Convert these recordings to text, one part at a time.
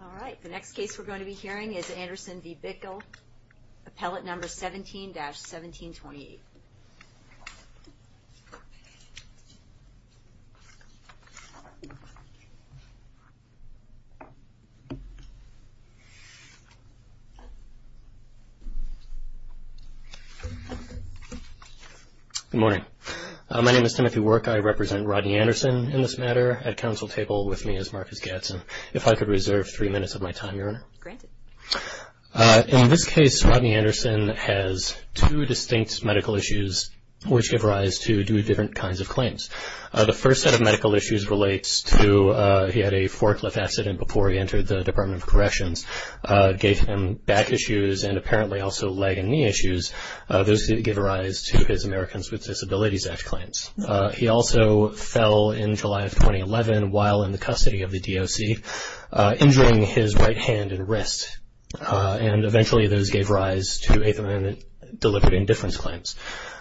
All right, the next case we're going to be hearing is Anderson v. Bickell, appellate number 17-1728. Good morning. My name is Timothy Work. I represent Rodney Anderson in this matter. At counsel table with me is Marcus Gadsden. If I could reserve three minutes of my time, Your Honor. Granted. In this case, Rodney Anderson has two distinct medical issues which give rise to two different kinds of claims. The first set of medical issues relates to he had a forklift accident before he entered the Department of Corrections, gave him back issues and apparently also leg and knee issues. Those give rise to his Americans with Disabilities Act claims. He also fell in July of 2011 while in the custody of the DOC, injuring his right hand and wrist. And eventually those gave rise to Eighth Amendment deliberate indifference claims.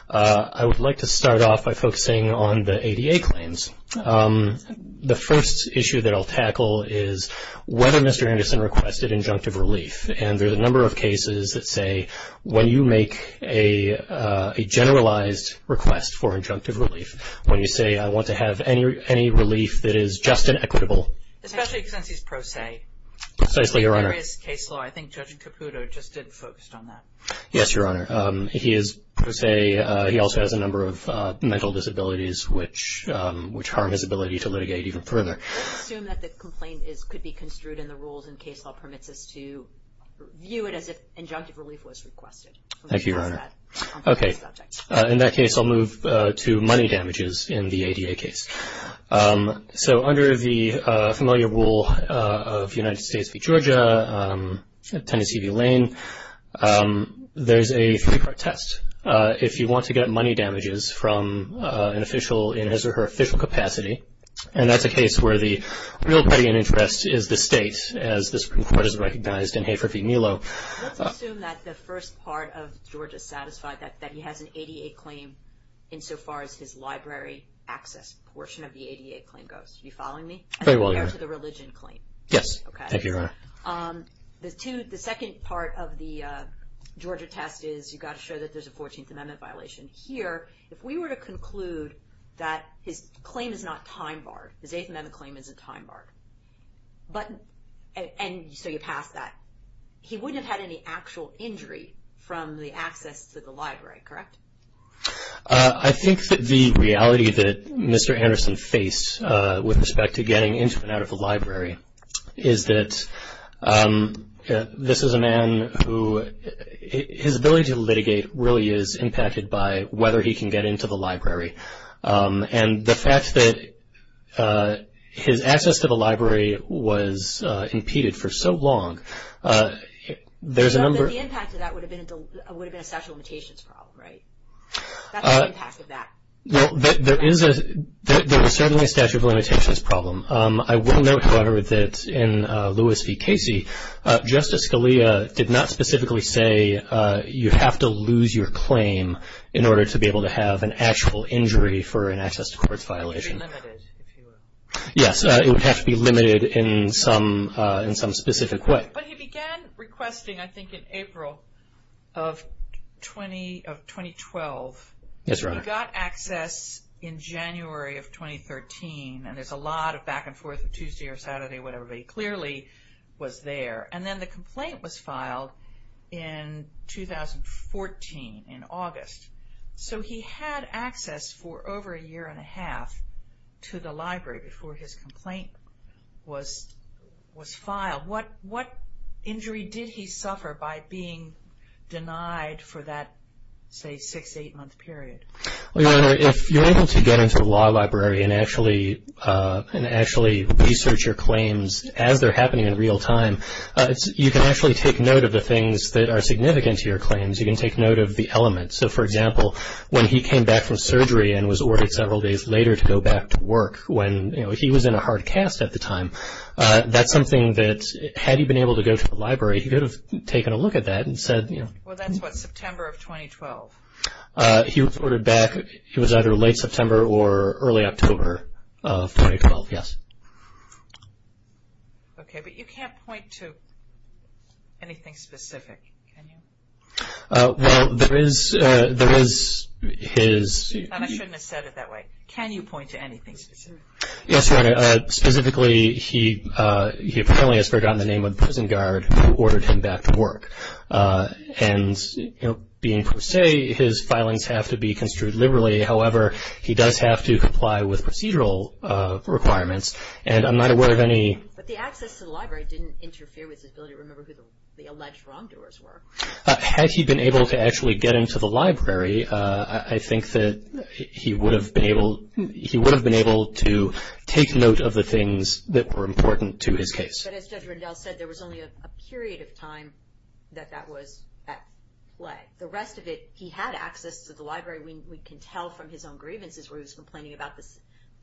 I would like to start off by focusing on the ADA claims. The first issue that I'll tackle is whether Mr. Anderson requested injunctive relief. And there's a number of cases that say when you make a generalized request for injunctive relief, when you say I want to have any relief that is just and equitable. Especially since he's pro se. Precisely, Your Honor. There is case law. I think Judge Caputo just didn't focus on that. Yes, Your Honor. He is pro se. He also has a number of mental disabilities which harm his ability to litigate even further. Let's assume that the complaint could be construed in the rules and case law permits us to view it as if injunctive relief was requested. Thank you, Your Honor. Okay. In that case, I'll move to money damages in the ADA case. So under the familiar rule of United States v. Georgia, Tennessee v. Lane, there's a three-part test. If you want to get money damages from an official in his or her official capacity, and that's a case where the real putty in interest is the state, as the Supreme Court has recognized in Hafer v. Melo. Let's assume that the first part of Georgia is satisfied that he has an ADA claim insofar as his library access portion of the ADA claim goes. Are you following me? Very well, Your Honor. As compared to the religion claim. Yes. Thank you, Your Honor. The second part of the Georgia test is you've got to show that there's a 14th Amendment violation. Here, if we were to conclude that his claim is not time barred, his 8th Amendment claim isn't time barred, and so you pass that, he wouldn't have had any actual injury from the access to the library, correct? I think that the reality that Mr. Anderson faced with respect to getting into and out of the library is that this is a man who, his ability to litigate really is impacted by whether he can get into the library. And the fact that his access to the library was impeded for so long, there's a number of- But the impact of that would have been a statute of limitations problem, right? That's the impact of that. There is certainly a statute of limitations problem. I will note, however, that in Lewis v. Casey, Justice Scalia did not specifically say you have to lose your claim in order to be able to have an actual injury for an access to courts violation. It would be limited, if you will. Yes, it would have to be limited in some specific way. But he began requesting, I think, in April of 2012. Yes, Your Honor. He got access in January of 2013, and there's a lot of back and forth of Tuesday or Saturday, when everybody clearly was there. And then the complaint was filed in 2014, in August. So he had access for over a year and a half to the library before his complaint was filed. Now, what injury did he suffer by being denied for that, say, six, eight-month period? Well, Your Honor, if you're able to get into a law library and actually research your claims as they're happening in real time, you can actually take note of the things that are significant to your claims. You can take note of the elements. So, for example, when he came back from surgery and was ordered several days later to go back to work, when he was in a hard cast at the time, that's something that, had he been able to go to the library, he could have taken a look at that and said, you know. Well, that's what, September of 2012? He was ordered back, it was either late September or early October of 2012, yes. Okay, but you can't point to anything specific, can you? Well, there is his... I shouldn't have said it that way. Can you point to anything specific? Yes, Your Honor. Specifically, he apparently has forgotten the name of the prison guard who ordered him back to work. And, you know, being per se, his filings have to be construed liberally. However, he does have to comply with procedural requirements, and I'm not aware of any... But the access to the library didn't interfere with his ability to remember who the alleged wrongdoers were. Had he been able to actually get into the library, I think that he would have been able to take note of the things that were important to his case. But as Judge Rendell said, there was only a period of time that that was at play. The rest of it, he had access to the library. We can tell from his own grievances where he was complaining about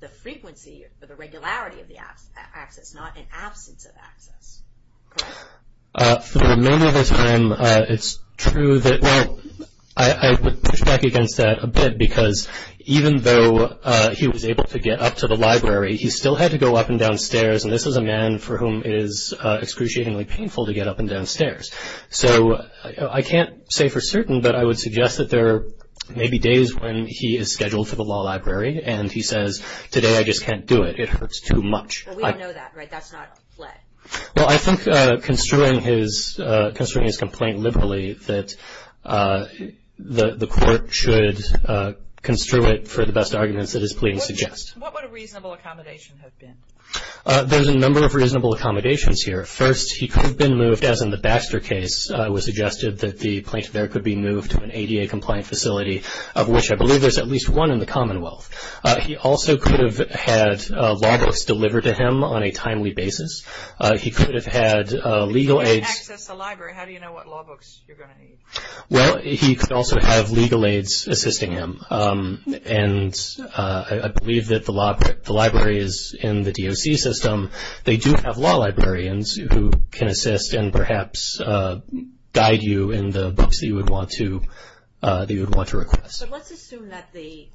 the frequency or the regularity of the access, not an absence of access. Correct? For the remainder of the time, it's true that... Well, I would push back against that a bit because even though he was able to get up to the library, he still had to go up and down stairs, and this is a man for whom it is excruciatingly painful to get up and down stairs. So I can't say for certain, but I would suggest that there may be days when he is scheduled for the law library and he says, today I just can't do it. It hurts too much. Well, we all know that, right? That's not a threat. Well, I think construing his complaint liberally, that the court should construe it for the best arguments that his pleading suggests. What would a reasonable accommodation have been? There's a number of reasonable accommodations here. First, he could have been moved, as in the Baxter case, it was suggested that the plaintiff there could be moved to an ADA-compliant facility, of which I believe there's at least one in the Commonwealth. He also could have had law books delivered to him on a timely basis. He could have had legal aids. He couldn't access the library. How do you know what law books you're going to need? Well, he could also have legal aids assisting him, and I believe that the library is in the DOC system. They do have law librarians who can assist and perhaps guide you in the books that you would want to request. So let's assume that the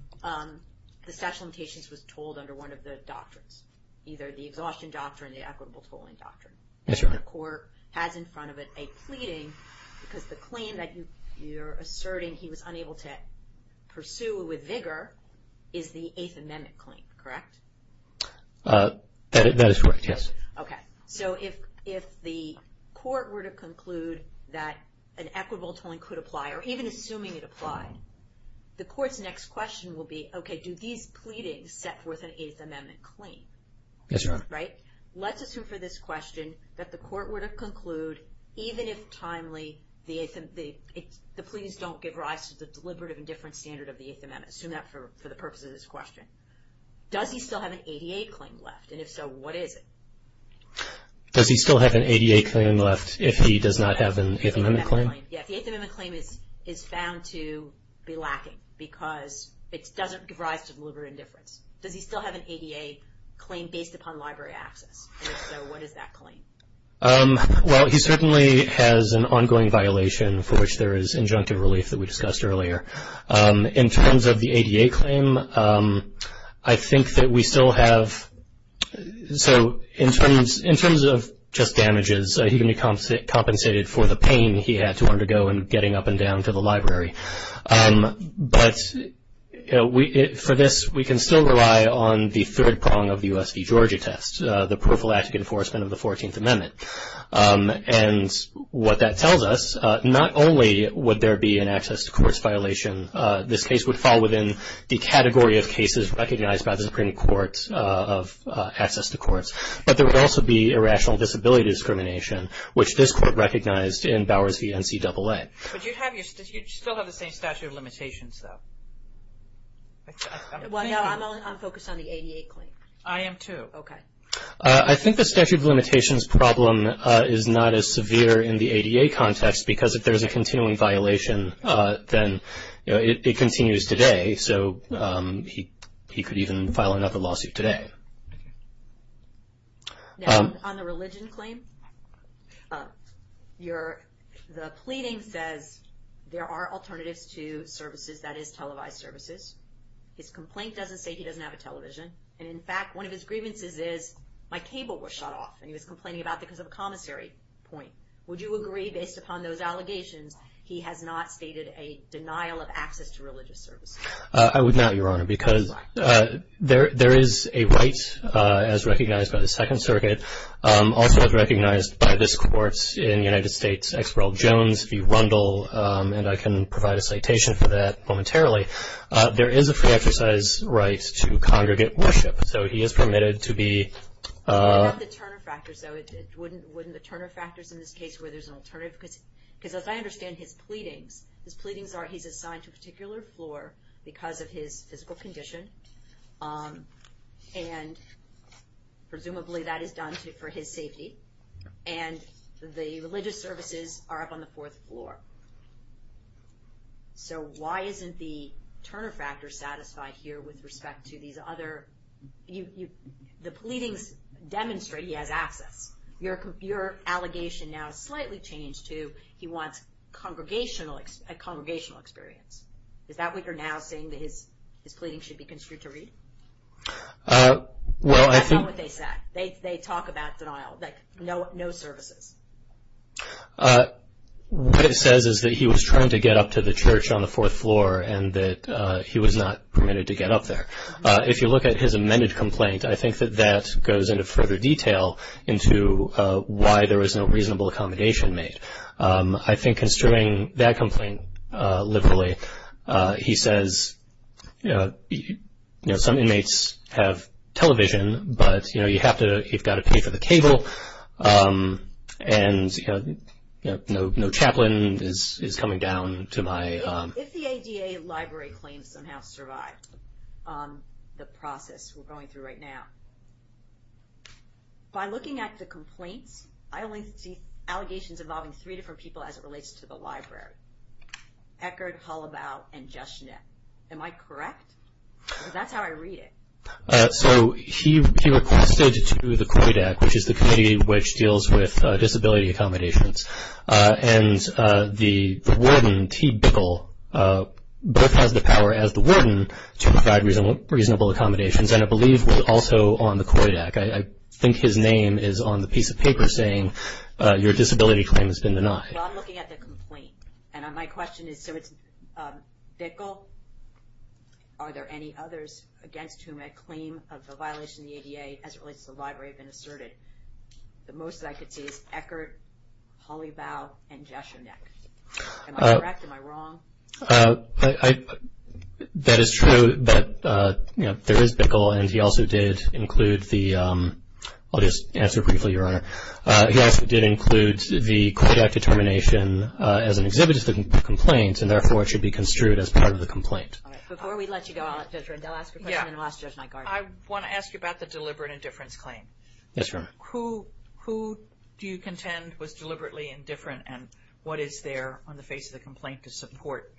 statute of limitations was told under one of the doctrines, either the exhaustion doctrine or the equitable tolling doctrine. Yes, Your Honor. And the court has in front of it a pleading, because the claim that you're asserting he was unable to pursue with vigor is the Eighth Amendment claim, correct? That is correct, yes. Okay. So if the court were to conclude that an equitable tolling could apply, or even assuming it applied, the court's next question will be, okay, do these pleadings set forth an Eighth Amendment claim? Yes, Your Honor. Right? Let's assume for this question that the court were to conclude, even if timely, the pleas don't give rise to the deliberative and different standard of the Eighth Amendment. Assume that for the purpose of this question. Does he still have an 88 claim left? And if so, what is it? Does he still have an 88 claim left if he does not have an Eighth Amendment claim? Yes, the Eighth Amendment claim is found to be lacking because it doesn't give rise to deliberate indifference. Does he still have an 88 claim based upon library access? And if so, what is that claim? Well, he certainly has an ongoing violation for which there is injunctive relief that we discussed earlier. In terms of the 88 claim, I think that we still have, so in terms of just damages, he can be compensated for the pain he had to undergo in getting up and down to the library. But for this, we can still rely on the third prong of the U.S. v. Georgia test, the prophylactic enforcement of the 14th Amendment. And what that tells us, not only would there be an access to courts violation, this case would fall within the category of cases recognized by the Supreme Court of access to courts, but there would also be irrational disability discrimination, which this Court recognized in Bowers v. NCAA. But you still have the same statute of limitations, though. Well, no, I'm focused on the 88 claim. I am, too. Okay. I think the statute of limitations problem is not as severe in the 88 context because if there's a continuing violation, then it continues today. So he could even file another lawsuit today. On the religion claim, the pleading says there are alternatives to services, that is, televised services. His complaint doesn't say he doesn't have a television. And in fact, one of his grievances is, my cable was shut off, and he was complaining about it because of a commissary point. Would you agree, based upon those allegations, he has not stated a denial of access to religious services? I would not, Your Honor, because there is a right, as recognized by the Second Circuit, also as recognized by this Court in the United States, Experl-Jones v. Rundle, and I can provide a citation for that momentarily. There is a free exercise right to congregate worship, so he is permitted to be... in this case where there's an alternative, because as I understand his pleadings, his pleadings are he's assigned to a particular floor because of his physical condition, and presumably that is done for his safety, and the religious services are up on the fourth floor. So why isn't the Turner factor satisfied here with respect to these other... The pleadings demonstrate he has access. Your allegation now is slightly changed to he wants a congregational experience. Is that what you're now saying, that his pleadings should be construed to read? That's not what they said. They talk about denial, like no services. What it says is that he was trying to get up to the church on the fourth floor and that he was not permitted to get up there. If you look at his amended complaint, I think that that goes into further detail into why there was no reasonable accommodation made. I think construing that complaint liberally, he says some inmates have television, but you've got to pay for the cable, and no chaplain is coming down to my... the process we're going through right now. By looking at the complaints, I only see allegations involving three different people as it relates to the library, Eckerd, Hollabaugh, and Jeschnit. Am I correct? Because that's how I read it. So he requested to the COIDAC, which is the committee which deals with disability accommodations, and the warden, T. Bickle, both has the power as the warden to provide reasonable accommodations, and I believe was also on the COIDAC. I think his name is on the piece of paper saying your disability claim has been denied. Well, I'm looking at the complaint, and my question is, so it's Bickle, are there any others against whom a claim of a violation of the ADA as it relates to the library has been asserted? The most that I could see is Eckerd, Hollabaugh, and Jeschnit. Am I correct? Am I wrong? That is true that there is Bickle, and he also did include the... I'll just answer briefly, Your Honor. He also did include the COIDAC determination as an exhibit of the complaint, and therefore it should be construed as part of the complaint. All right. Before we let you go, I'll let Judge Rendell ask her question, and I'll ask Judge Nygaard. I want to ask you about the deliberate indifference claim. Yes, Your Honor. Who do you contend was deliberately indifferent, and what is there on the face of the complaint to support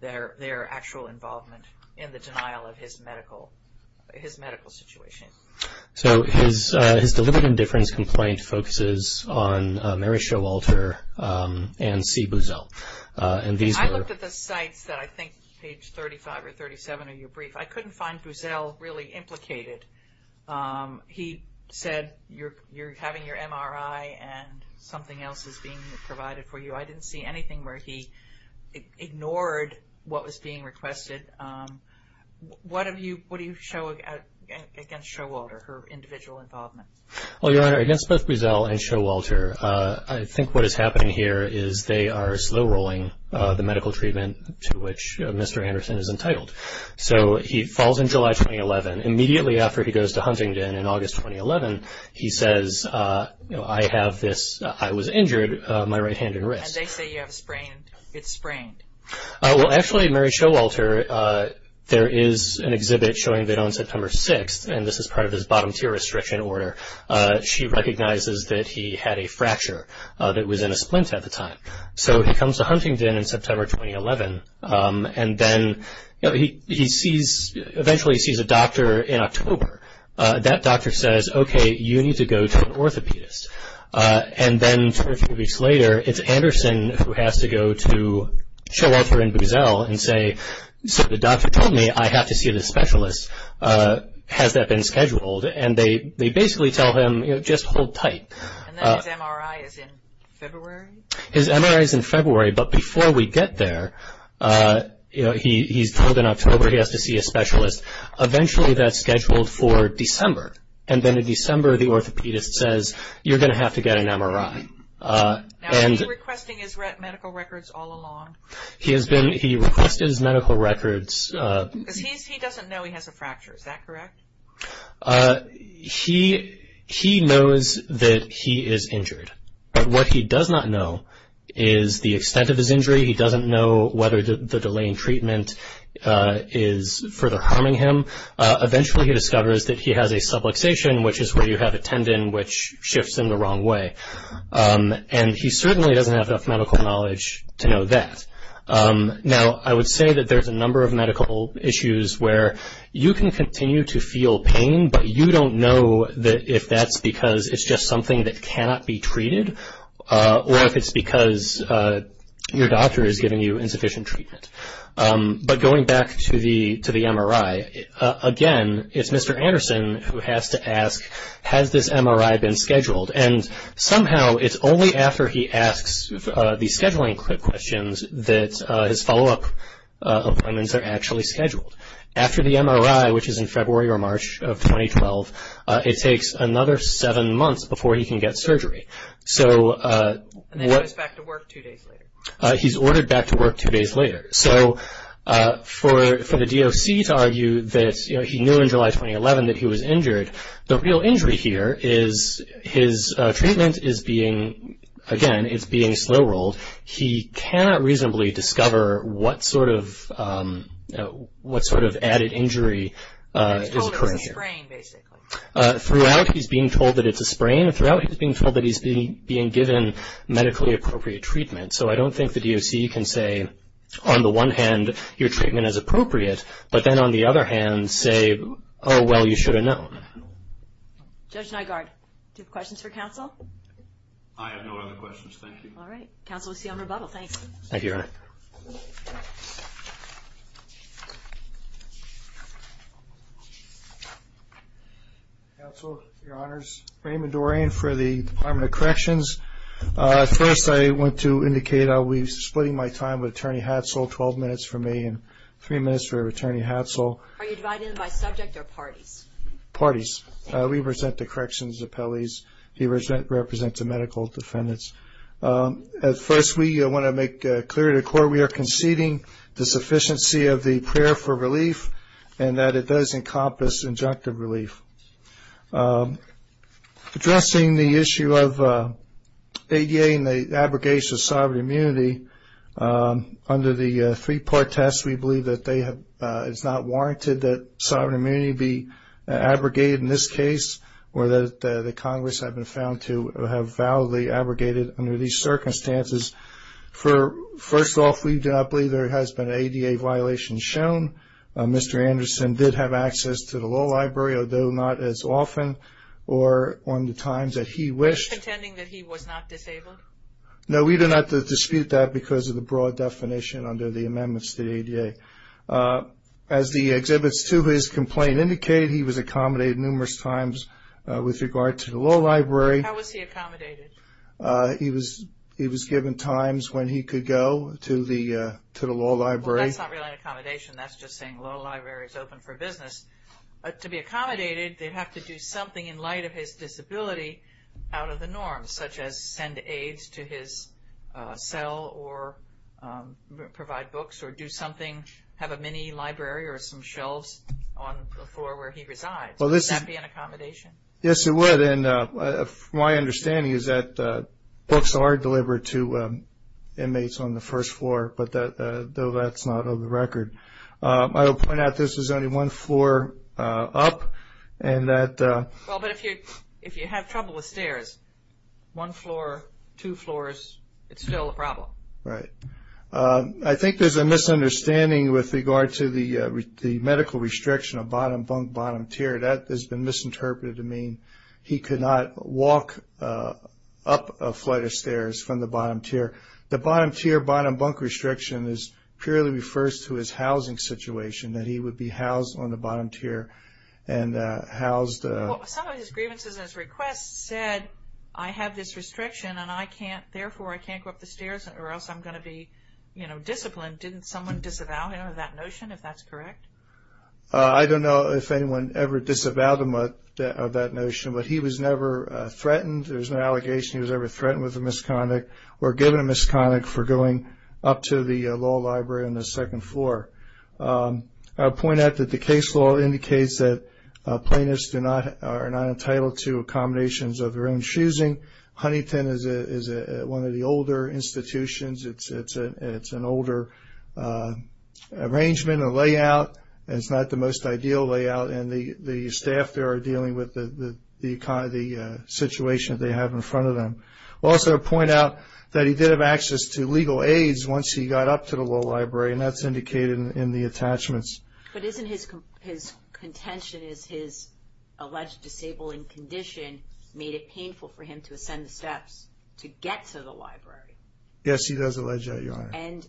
their actual involvement in the denial of his medical situation? So his deliberate indifference complaint focuses on Mary Showalter and C. Buzell. I looked at the sites that I think page 35 or 37 of your brief. I couldn't find Buzell really implicated. He said you're having your MRI and something else is being provided for you. I didn't see anything where he ignored what was being requested. What do you show against Showalter, her individual involvement? Well, Your Honor, against both Buzell and Showalter, I think what is happening here is they are slow-rolling the medical treatment to which Mr. Anderson is entitled. So he falls in July 2011. Immediately after he goes to Huntingdon in August 2011, he says, I have this, I was injured, my right hand and wrist. And they say you have sprained. It's sprained. Well, actually, Mary Showalter, there is an exhibit showing that on September 6th, and this is part of his bottom tier restriction order, she recognizes that he had a fracture that was in a splint at the time. So he comes to Huntingdon in September 2011, and then he eventually sees a doctor in October. That doctor says, okay, you need to go to an orthopedist. And then two or three weeks later, it's Anderson who has to go to Showalter and Buzell and say, so the doctor told me I have to see this specialist. Has that been scheduled? And they basically tell him, you know, just hold tight. And then his MRI is in February? His MRI is in February, but before we get there, you know, he's told in October he has to see a specialist. Eventually that's scheduled for December. And then in December, the orthopedist says, you're going to have to get an MRI. Now, has he been requesting his medical records all along? He has been, he requested his medical records. Because he doesn't know he has a fracture, is that correct? He knows that he is injured. But what he does not know is the extent of his injury. He doesn't know whether the delay in treatment is further harming him. Eventually he discovers that he has a subluxation, which is where you have a tendon which shifts in the wrong way. And he certainly doesn't have enough medical knowledge to know that. Now, I would say that there's a number of medical issues where you can continue to feel pain, but you don't know if that's because it's just something that cannot be treated, or if it's because your doctor is giving you insufficient treatment. But going back to the MRI, again, it's Mr. Anderson who has to ask, has this MRI been scheduled? And somehow it's only after he asks the scheduling questions that his follow-up appointments are actually scheduled. After the MRI, which is in February or March of 2012, it takes another seven months before he can get surgery. And then he goes back to work two days later. He's ordered back to work two days later. So for the DOC to argue that he knew in July 2011 that he was injured, the real injury here is his treatment is being, again, it's being slow-rolled. He cannot reasonably discover what sort of added injury is occurring here. He's told it's a sprain, basically. Throughout he's being told that it's a sprain, and throughout he's being told that he's being given medically appropriate treatment. So I don't think the DOC can say, on the one hand, your treatment is appropriate, but then, on the other hand, say, oh, well, you should have known. Judge Nygaard, do you have questions for counsel? I have no other questions. Thank you. All right. Counsel, we'll see you on rebuttal. Thanks. Thank you, Your Honor. Counsel, Your Honors, Raymond Dorian for the Department of Corrections. First, I want to indicate I'll be splitting my time with Attorney Hatzel, 12 minutes for me and three minutes for Attorney Hatzel. Are you divided by subject or parties? Parties. We represent the Corrections Appellees. He represents the medical defendants. First, we want to make clear to the Court we are conceding the sufficiency of the prayer for relief and that it does encompass injunctive relief. Addressing the issue of ADA and the abrogation of sovereign immunity, under the three-part test, we believe that it is not warranted that sovereign immunity be abrogated in this case or that the Congress have been found to have validly abrogated under these circumstances. First off, we do not believe there has been an ADA violation shown. Mr. Anderson did have access to the law library, although not as often or on the times that he wished. Are you contending that he was not disabled? No, we do not dispute that because of the broad definition under the amendments to the ADA. As the exhibits to his complaint indicate, he was accommodated numerous times with regard to the law library. How was he accommodated? He was given times when he could go to the law library. That's not really an accommodation. That's just saying the law library is open for business. To be accommodated, they have to do something in light of his disability out of the norms, such as send aids to his cell or provide books or do something, have a mini-library or some shelves on the floor where he resides. Would that be an accommodation? Yes, it would. My understanding is that books are delivered to inmates on the first floor, though that's not on the record. I will point out this is only one floor up. If you have trouble with stairs, one floor, two floors, it's still a problem. Right. I think there's a misunderstanding with regard to the medical restriction of bottom bunk, bottom tier. That has been misinterpreted to mean he could not walk up a flight of stairs from the bottom tier. The bottom tier, bottom bunk restriction purely refers to his housing situation, that he would be housed on the bottom tier. Some of his grievances and his requests said, I have this restriction and therefore I can't go up the stairs or else I'm going to be disciplined. Didn't someone disavow that notion, if that's correct? I don't know if anyone ever disavowed him of that notion, but he was never threatened. There's no allegation he was ever threatened with a misconduct or given a misconduct for going up to the law library on the second floor. I'll point out that the case law indicates that plaintiffs are not entitled to accommodations of their own choosing. Huntington is one of the older institutions. It's an older arrangement and layout. It's not the most ideal layout. And the staff there are dealing with the situation that they have in front of them. I'll also point out that he did have access to legal aids once he got up to the law library, and that's indicated in the attachments. But isn't his contention is his alleged disabling condition made it painful for him to ascend the steps to get to the library? Yes, he does allege that, Your Honor. And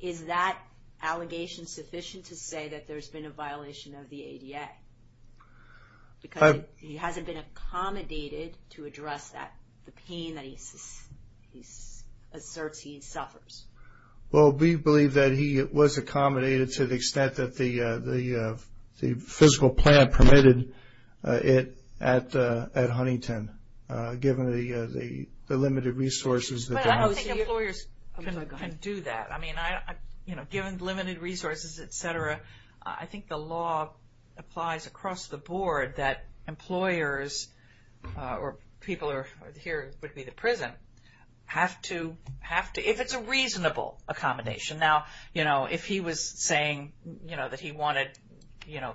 is that allegation sufficient to say that there's been a violation of the ADA? Because he hasn't been accommodated to address the pain that he asserts he suffers. Well, we believe that he was accommodated to the extent that the physical plan permitted it at Huntington, given the limited resources that they have. But I don't think employers can do that. I mean, you know, given the limited resources, et cetera, I think the law applies across the board that employers or people who are here, would be the prison, have to, if it's a reasonable accommodation. Now, you know, if he was saying, you know, that he wanted, you know,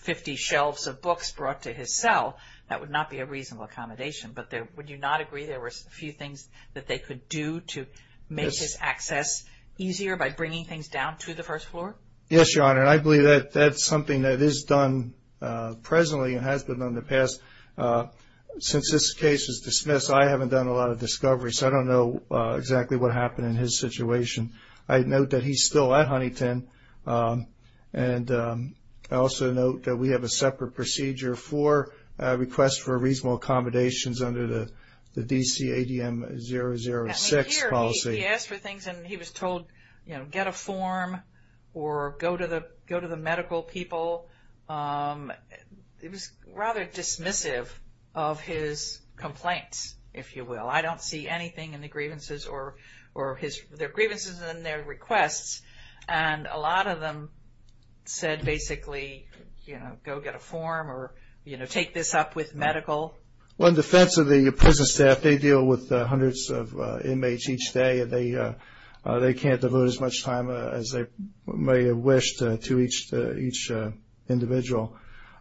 50 shelves of books brought to his cell, that would not be a reasonable accommodation. But would you not agree there were a few things that they could do to make his access easier by bringing things down to the first floor? Yes, Your Honor. And I believe that that's something that is done presently and has been done in the past. Since this case is dismissed, I haven't done a lot of discovery, so I don't know exactly what happened in his situation. I note that he's still at Huntington, and I also note that we have a separate procedure for requests for reasonable accommodations under the DC ADM 006 policy. He asked for things and he was told, you know, get a form or go to the medical people. It was rather dismissive of his complaints, if you will. I don't see anything in the grievances or their grievances and their requests, and a lot of them said basically, you know, go get a form or, you know, take this up with medical. Well, in defense of the prison staff, they deal with hundreds of inmates each day, and they can't devote as much time as they may have wished to each individual.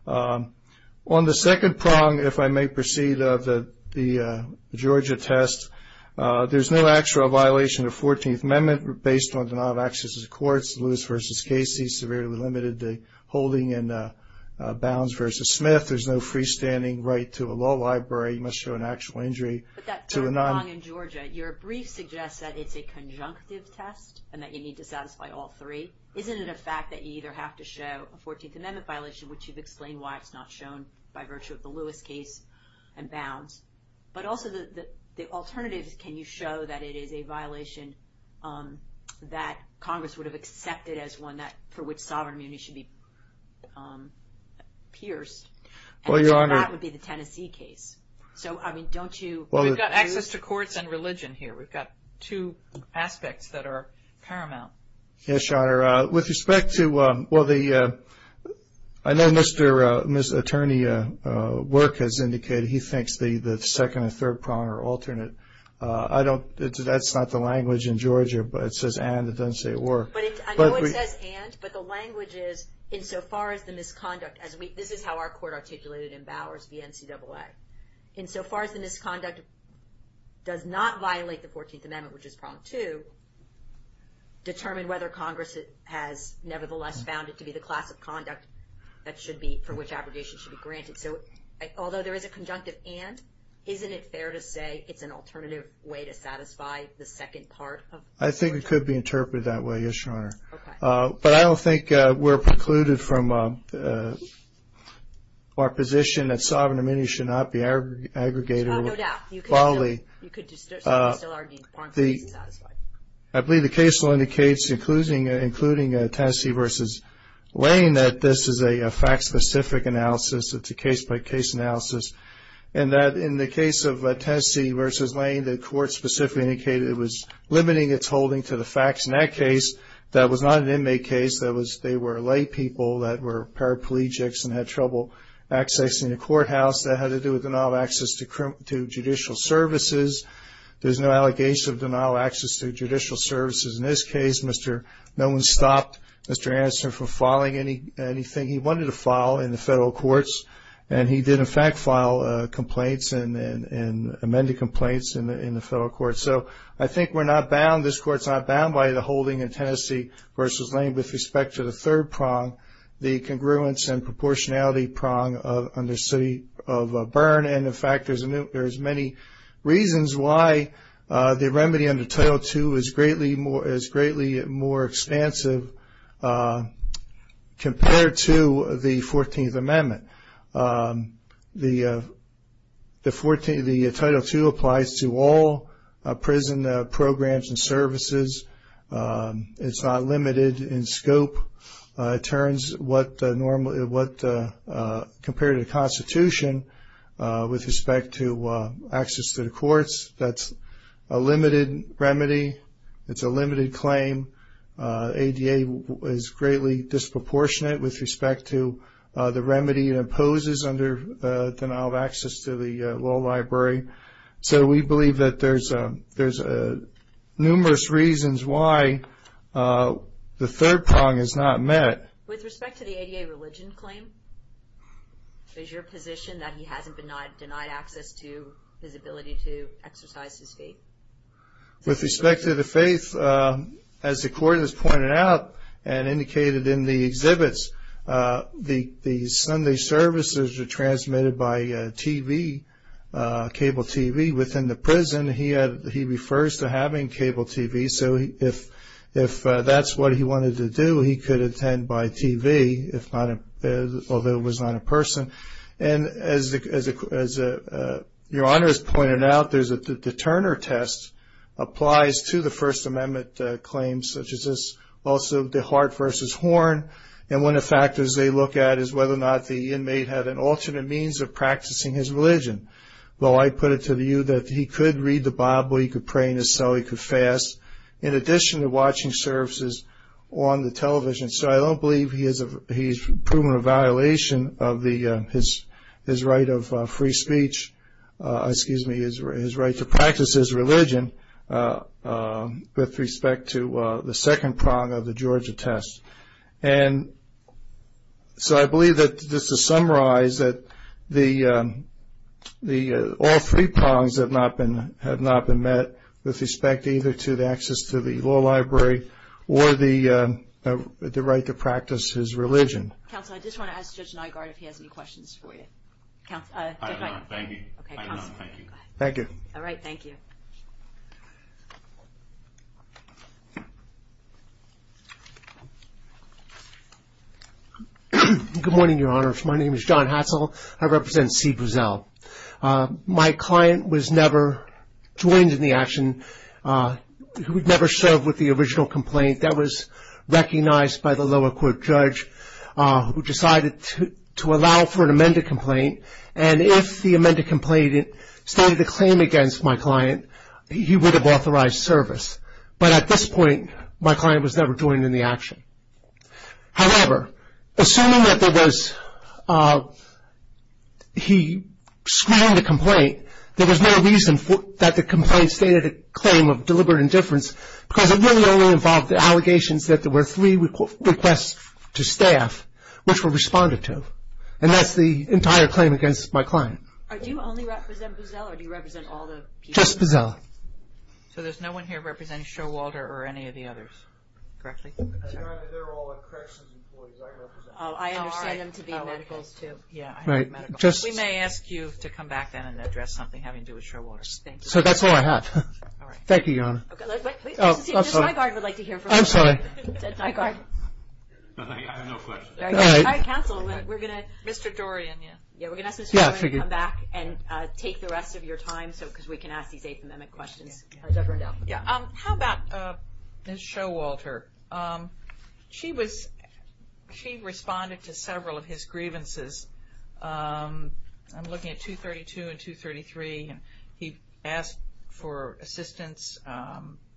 On the second prong, if I may proceed, of the Georgia test, there's no actual violation of the 14th Amendment based on denial of access to the courts. Lewis v. Casey severely limited the holding in Bounds v. Smith. There's no freestanding right to a law library. He must show an actual injury. But that third prong in Georgia, your brief suggests that it's a conjunctive test and that you need to satisfy all three. Isn't it a fact that you either have to show a 14th Amendment violation, which you've explained why it's not shown by virtue of the Lewis case and Bounds, but also the alternative is can you show that it is a violation that Congress would have accepted as one for which sovereign immunity should be pierced, and that would be the Tennessee case. We've got access to courts and religion here. We've got two aspects that are paramount. Yes, Your Honor. I know Mr. Attorney Work has indicated he thinks the second and third prong are alternate. That's not the language in Georgia, but it says and. It doesn't say or. I know it says and, but the language is insofar as the misconduct. This is how our court articulated in Bowers v. NCAA. Insofar as the misconduct does not violate the 14th Amendment, which is prong two, determine whether Congress has nevertheless found it to be the class of conduct for which abrogation should be granted. So although there is a conjunctive and, isn't it fair to say it's an alternative way to satisfy the second part of Georgia? But I don't think we're precluded from our position that sovereign immunity should not be aggregated with folly. I believe the case will indicate, including Tennessee v. Lane, that this is a fact-specific analysis. It's a case-by-case analysis, and that in the case of Tennessee v. Lane, the court specifically indicated it was limiting its holding to the facts in that case, that was not an inmate case. They were lay people that were paraplegics and had trouble accessing the courthouse. That had to do with denial of access to judicial services. There's no allegation of denial of access to judicial services in this case. No one stopped Mr. Anderson from filing anything he wanted to file in the federal courts, and he did, in fact, file complaints and amended complaints in the federal courts. So I think we're not bound, this court's not bound by the holding in Tennessee v. Lane with respect to the third prong, the congruence and proportionality prong under city of Byrne. And, in fact, there's many reasons why the remedy under Title II is greatly more expansive compared to the 14th Amendment. The Title II applies to all prison programs and services. It's not limited in scope. It turns what compared to the Constitution with respect to access to the courts. That's a limited remedy. It's a limited claim. ADA is greatly disproportionate with respect to the remedy it imposes under denial of access to the law library. So we believe that there's numerous reasons why the third prong is not met. With respect to the ADA religion claim, is your position that he hasn't denied access to his ability to exercise his faith? With respect to the faith, as the court has pointed out and indicated in the exhibits, the Sunday services are transmitted by TV, cable TV. Within the prison, he refers to having cable TV. So if that's what he wanted to do, he could attend by TV, although it was not in person. And as Your Honor has pointed out, the Turner test applies to the First Amendment claims such as this. Also, the heart versus horn. And one of the factors they look at is whether or not the inmate had an alternate means of practicing his religion. Though I put it to view that he could read the Bible, he could pray in his cell, he could fast, in addition to watching services on the television. So I don't believe he's proven a violation of his right of free speech, excuse me, his right to practice his religion, with respect to the second prong of the Georgia test. And so I believe that just to summarize that all three prongs have not been met with respect either to the access to the law library or the right to practice his religion. Counsel, I just want to ask Judge Nygaard if he has any questions for you. I do not. Thank you. Thank you. All right. Thank you. Good morning, Your Honor. My name is John Hatzell. I represent C. Bruzel. My client was never joined in the action. He would never serve with the original complaint. That was recognized by the lower court judge who decided to allow for an amended complaint. And if the amended complaint stated a claim against my client, he would have authorized service. But at this point, my client was never joined in the action. However, assuming that there was, he screened the complaint, there was no reason that the complaint stated a claim of deliberate indifference because it really only involved allegations that there were three requests to staff which were responded to. And that's the entire claim against my client. Do you only represent Bruzel or do you represent all the people? Just Bruzel. So there's no one here representing Showalter or any of the others, correctly? They're all corrections employees. I represent them. I understand them to be medicals too. We may ask you to come back then and address something having to do with Showalter. So that's all I have. Thank you, Your Honor. I'm sorry. My guard would like to hear from you. I'm sorry. My guard. I have no questions. All right. Counsel, we're going to Mr. Dorian, yeah. Yeah, we're going to ask Mr. Dorian to come back and take the rest of your time because we can ask these eighth amendment questions. How's everyone doing? How about Showalter? She responded to several of his grievances. I'm looking at 232 and 233. He asked for assistance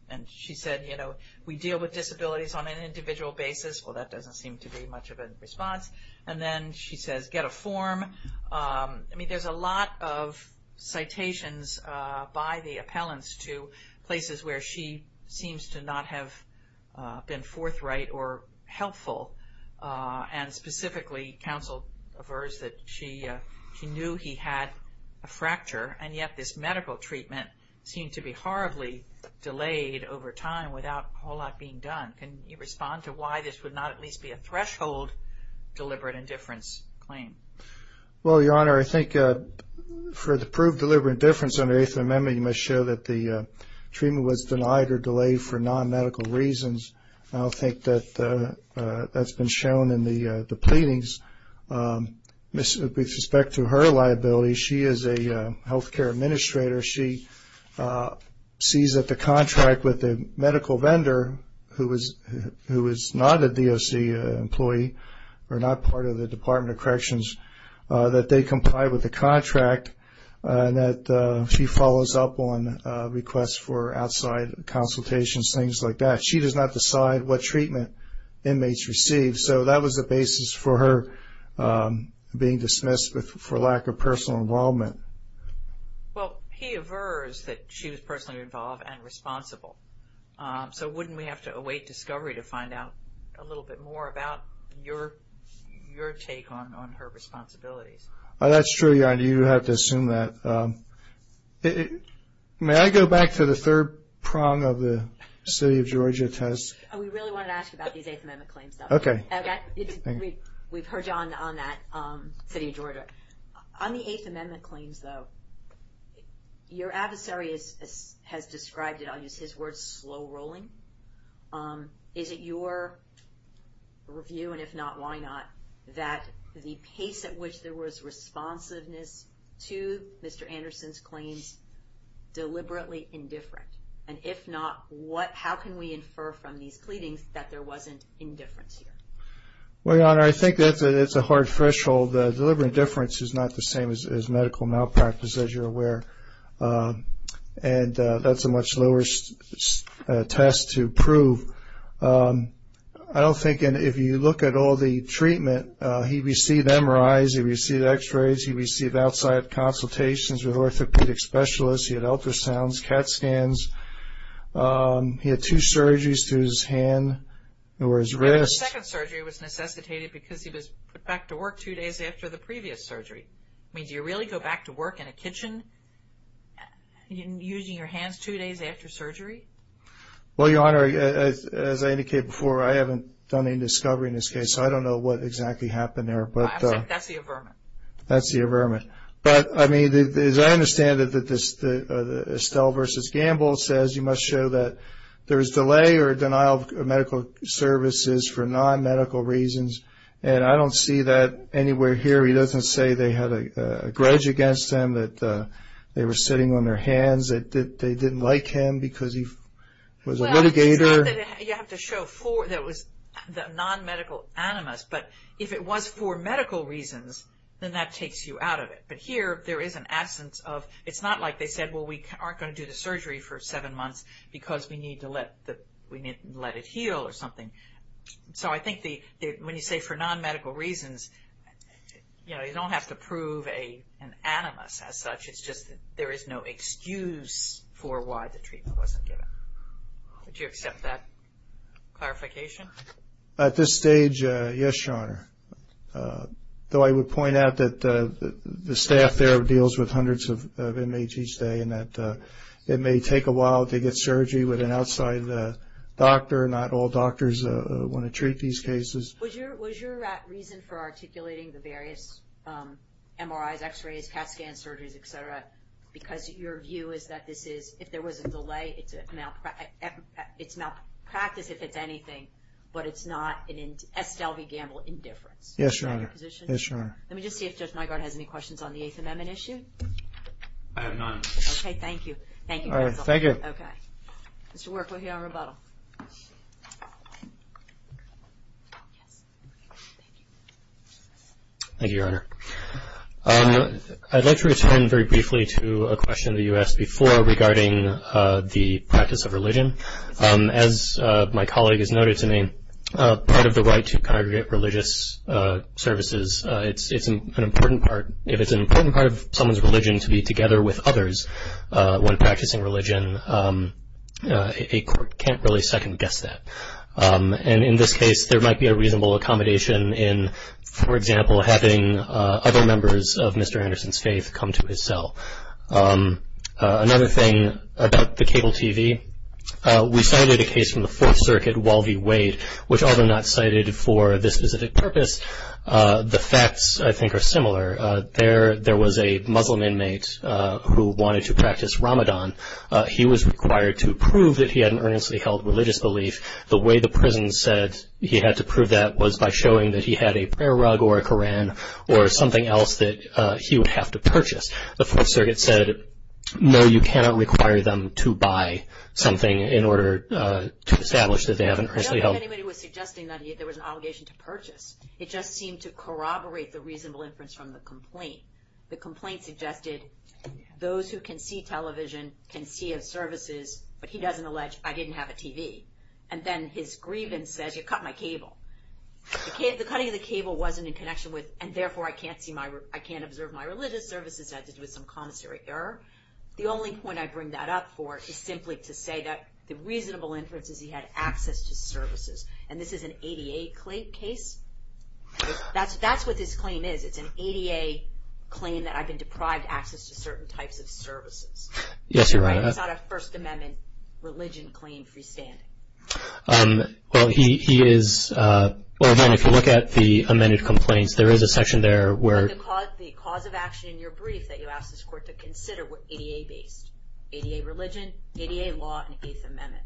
and she said, you know, we deal with disabilities on an individual basis. Well, that doesn't seem to be much of a response. And then she says, get a form. I mean, there's a lot of citations by the appellants to places where she seems to not have been forthright or helpful and specifically counsel aversed that she knew he had a fracture and yet this medical treatment seemed to be horribly delayed over time without a whole lot being done. Can you respond to why this would not at least be a threshold deliberate indifference claim? Well, Your Honor, I think for the proved deliberate indifference under the eighth amendment, you must show that the treatment was denied or delayed for non-medical reasons. I don't think that that's been shown in the pleadings. With respect to her liability, she is a health care administrator. She sees that the contract with the medical vendor who is not a DOC employee or not part of the Department of Corrections, that they comply with the contract and that she follows up on requests for outside consultations, things like that. She does not decide what treatment inmates receive. So that was the basis for her being dismissed for lack of personal involvement. Well, he aversed that she was personally involved and responsible. So wouldn't we have to await discovery to find out a little bit more about your take on her responsibilities? That's true, Your Honor. You have to assume that. May I go back to the third prong of the City of Georgia test? We really wanted to ask you about these eighth amendment claims. Okay. We've heard you on that, City of Georgia. On the eighth amendment claims, though, your adversary has described it. I'll use his words, slow rolling. Is it your review, and if not, why not, that the pace at which there was responsiveness to Mr. Anderson's claims deliberately indifferent? And if not, how can we infer from these pleadings that there wasn't indifference here? Well, Your Honor, I think that's a hard threshold. Deliberate indifference is not the same as medical malpractice, as you're aware. And that's a much lower test to prove. I don't think if you look at all the treatment, he received MRIs, he received X-rays, he received outside consultations with orthopedic specialists. He had ultrasounds, CAT scans. He had two surgeries to his hand or his wrist. The second surgery was necessitated because he was put back to work two days after the previous surgery. I mean, do you really go back to work in a kitchen using your hands two days after surgery? Well, Your Honor, as I indicated before, I haven't done any discovery in this case, so I don't know what exactly happened there. That's the averment. That's the averment. But, I mean, as I understand it, Estelle v. Gamble says you must show that there is delay or denial of medical services for non-medical reasons. And I don't see that anywhere here. He doesn't say they had a grudge against him, that they were sitting on their hands, that they didn't like him because he was a litigator. Well, it's not that you have to show the non-medical animus. But if it was for medical reasons, then that takes you out of it. But here there is an absence of – it's not like they said, well, we aren't going to do the surgery for seven months because we need to let it heal or something. So I think when you say for non-medical reasons, you know, you don't have to prove an animus as such. It's just there is no excuse for why the treatment wasn't given. Would you accept that clarification? At this stage, yes, Your Honor. Though I would point out that the staff there deals with hundreds of inmates each day and that it may take a while to get surgery with an outside doctor. Not all doctors want to treat these cases. Was your reason for articulating the various MRIs, X-rays, CAT scans, surgeries, et cetera, because your view is that this is – if there was a delay, it's malpractice if it's anything, but it's not an Estelle v. Gamble indifference. Yes, Your Honor. Is that your position? Yes, Your Honor. Let me just see if Judge Mygaard has any questions on the Eighth Amendment issue. Okay, thank you. Thank you, Counsel. All right, thank you. Okay. Mr. Work, we'll hear on rebuttal. Thank you, Your Honor. I'd like to return very briefly to a question that you asked before regarding the practice of religion. As my colleague has noted to me, part of the right to congregate religious services, it's an important part. If it's an important part of someone's religion to be together with others when practicing religion, a court can't really second-guess that. And in this case, there might be a reasonable accommodation in, for example, having other members of Mr. Anderson's faith come to his cell. Another thing about the cable TV, we cited a case from the Fourth Circuit, Walby Wade, which although not cited for this specific purpose, the facts, I think, are similar. There was a Muslim inmate who wanted to practice Ramadan. He was required to prove that he had an earnestly held religious belief. The way the prison said he had to prove that was by showing that he had a prayer rug or a Koran or something else that he would have to purchase. The Fourth Circuit said, no, you cannot require them to buy something in order to establish that they have an earnestly held. I don't know if anybody was suggesting that there was an obligation to purchase. It just seemed to corroborate the reasonable inference from the complaint. The complaint suggested those who can see television can see of services, but he doesn't allege, I didn't have a TV. And then his grievance says, you cut my cable. The cutting of the cable wasn't in connection with, and therefore I can't observe my religious services. It had to do with some commissary error. The only point I bring that up for is simply to say that the reasonable inference is he had access to services. And this is an ADA case. That's what this claim is. It's an ADA claim that I've been deprived access to certain types of services. Yes, you're right. It's not a First Amendment religion claim freestanding. Well, he is, well, again, if you look at the amended complaints, there is a section there where. The cause of action in your brief that you asked this Court to consider were ADA based. ADA religion, ADA law, and Eighth Amendment.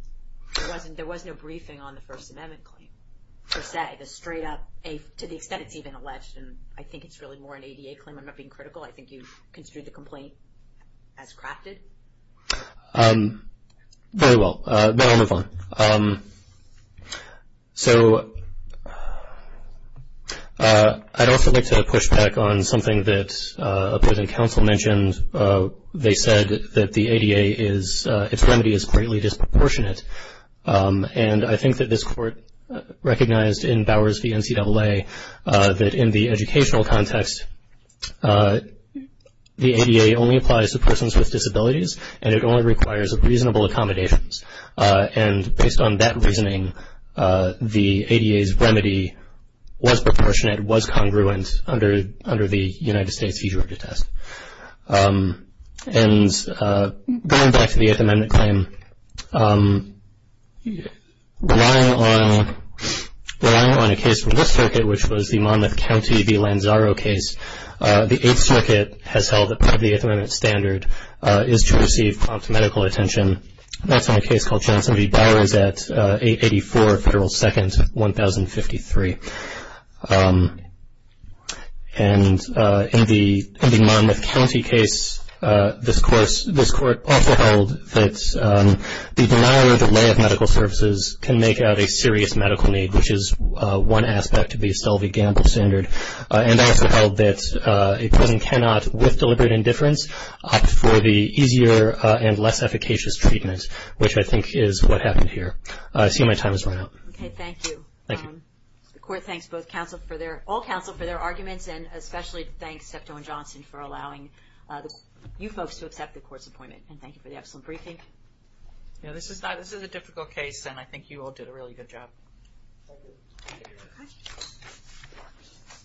There was no briefing on the First Amendment claim per se. The straight up, to the extent it's even alleged, and I think it's really more an ADA claim. I'm not being critical. I think you construed the complaint as crafted. Okay. Very well. Then I'll move on. So I'd also like to push back on something that a prison counsel mentioned. They said that the ADA is, its remedy is greatly disproportionate. And I think that this Court recognized in Bowers v. NCAA that in the educational context, the ADA only applies to persons with disabilities and it only requires reasonable accommodations. And based on that reasoning, the ADA's remedy was proportionate, was congruent under the United States seizure of due test. And going back to the Eighth Amendment claim, relying on a case from this circuit, which was the Monmouth County v. Lanzaro case, the Eighth Circuit has held that part of the Eighth Amendment standard is to receive prompt medical attention. That's on a case called Johnson v. Bowers at 884 Federal 2nd, 1053. And in the Monmouth County case, this Court also held that the denial or delay of medical services can make out a serious medical need, which is one aspect of the Estelle v. Gamble standard. And also held that a prison cannot, with deliberate indifference, opt for the easier and less efficacious treatment, which I think is what happened here. I see my time has run out. Okay, thank you. Thank you. The Court thanks all counsel for their arguments, and especially thanks SEPTO and Johnson for allowing you folks to accept the Court's appointment. And thank you for the excellent briefing. This is a difficult case, and I think you all did a really good job.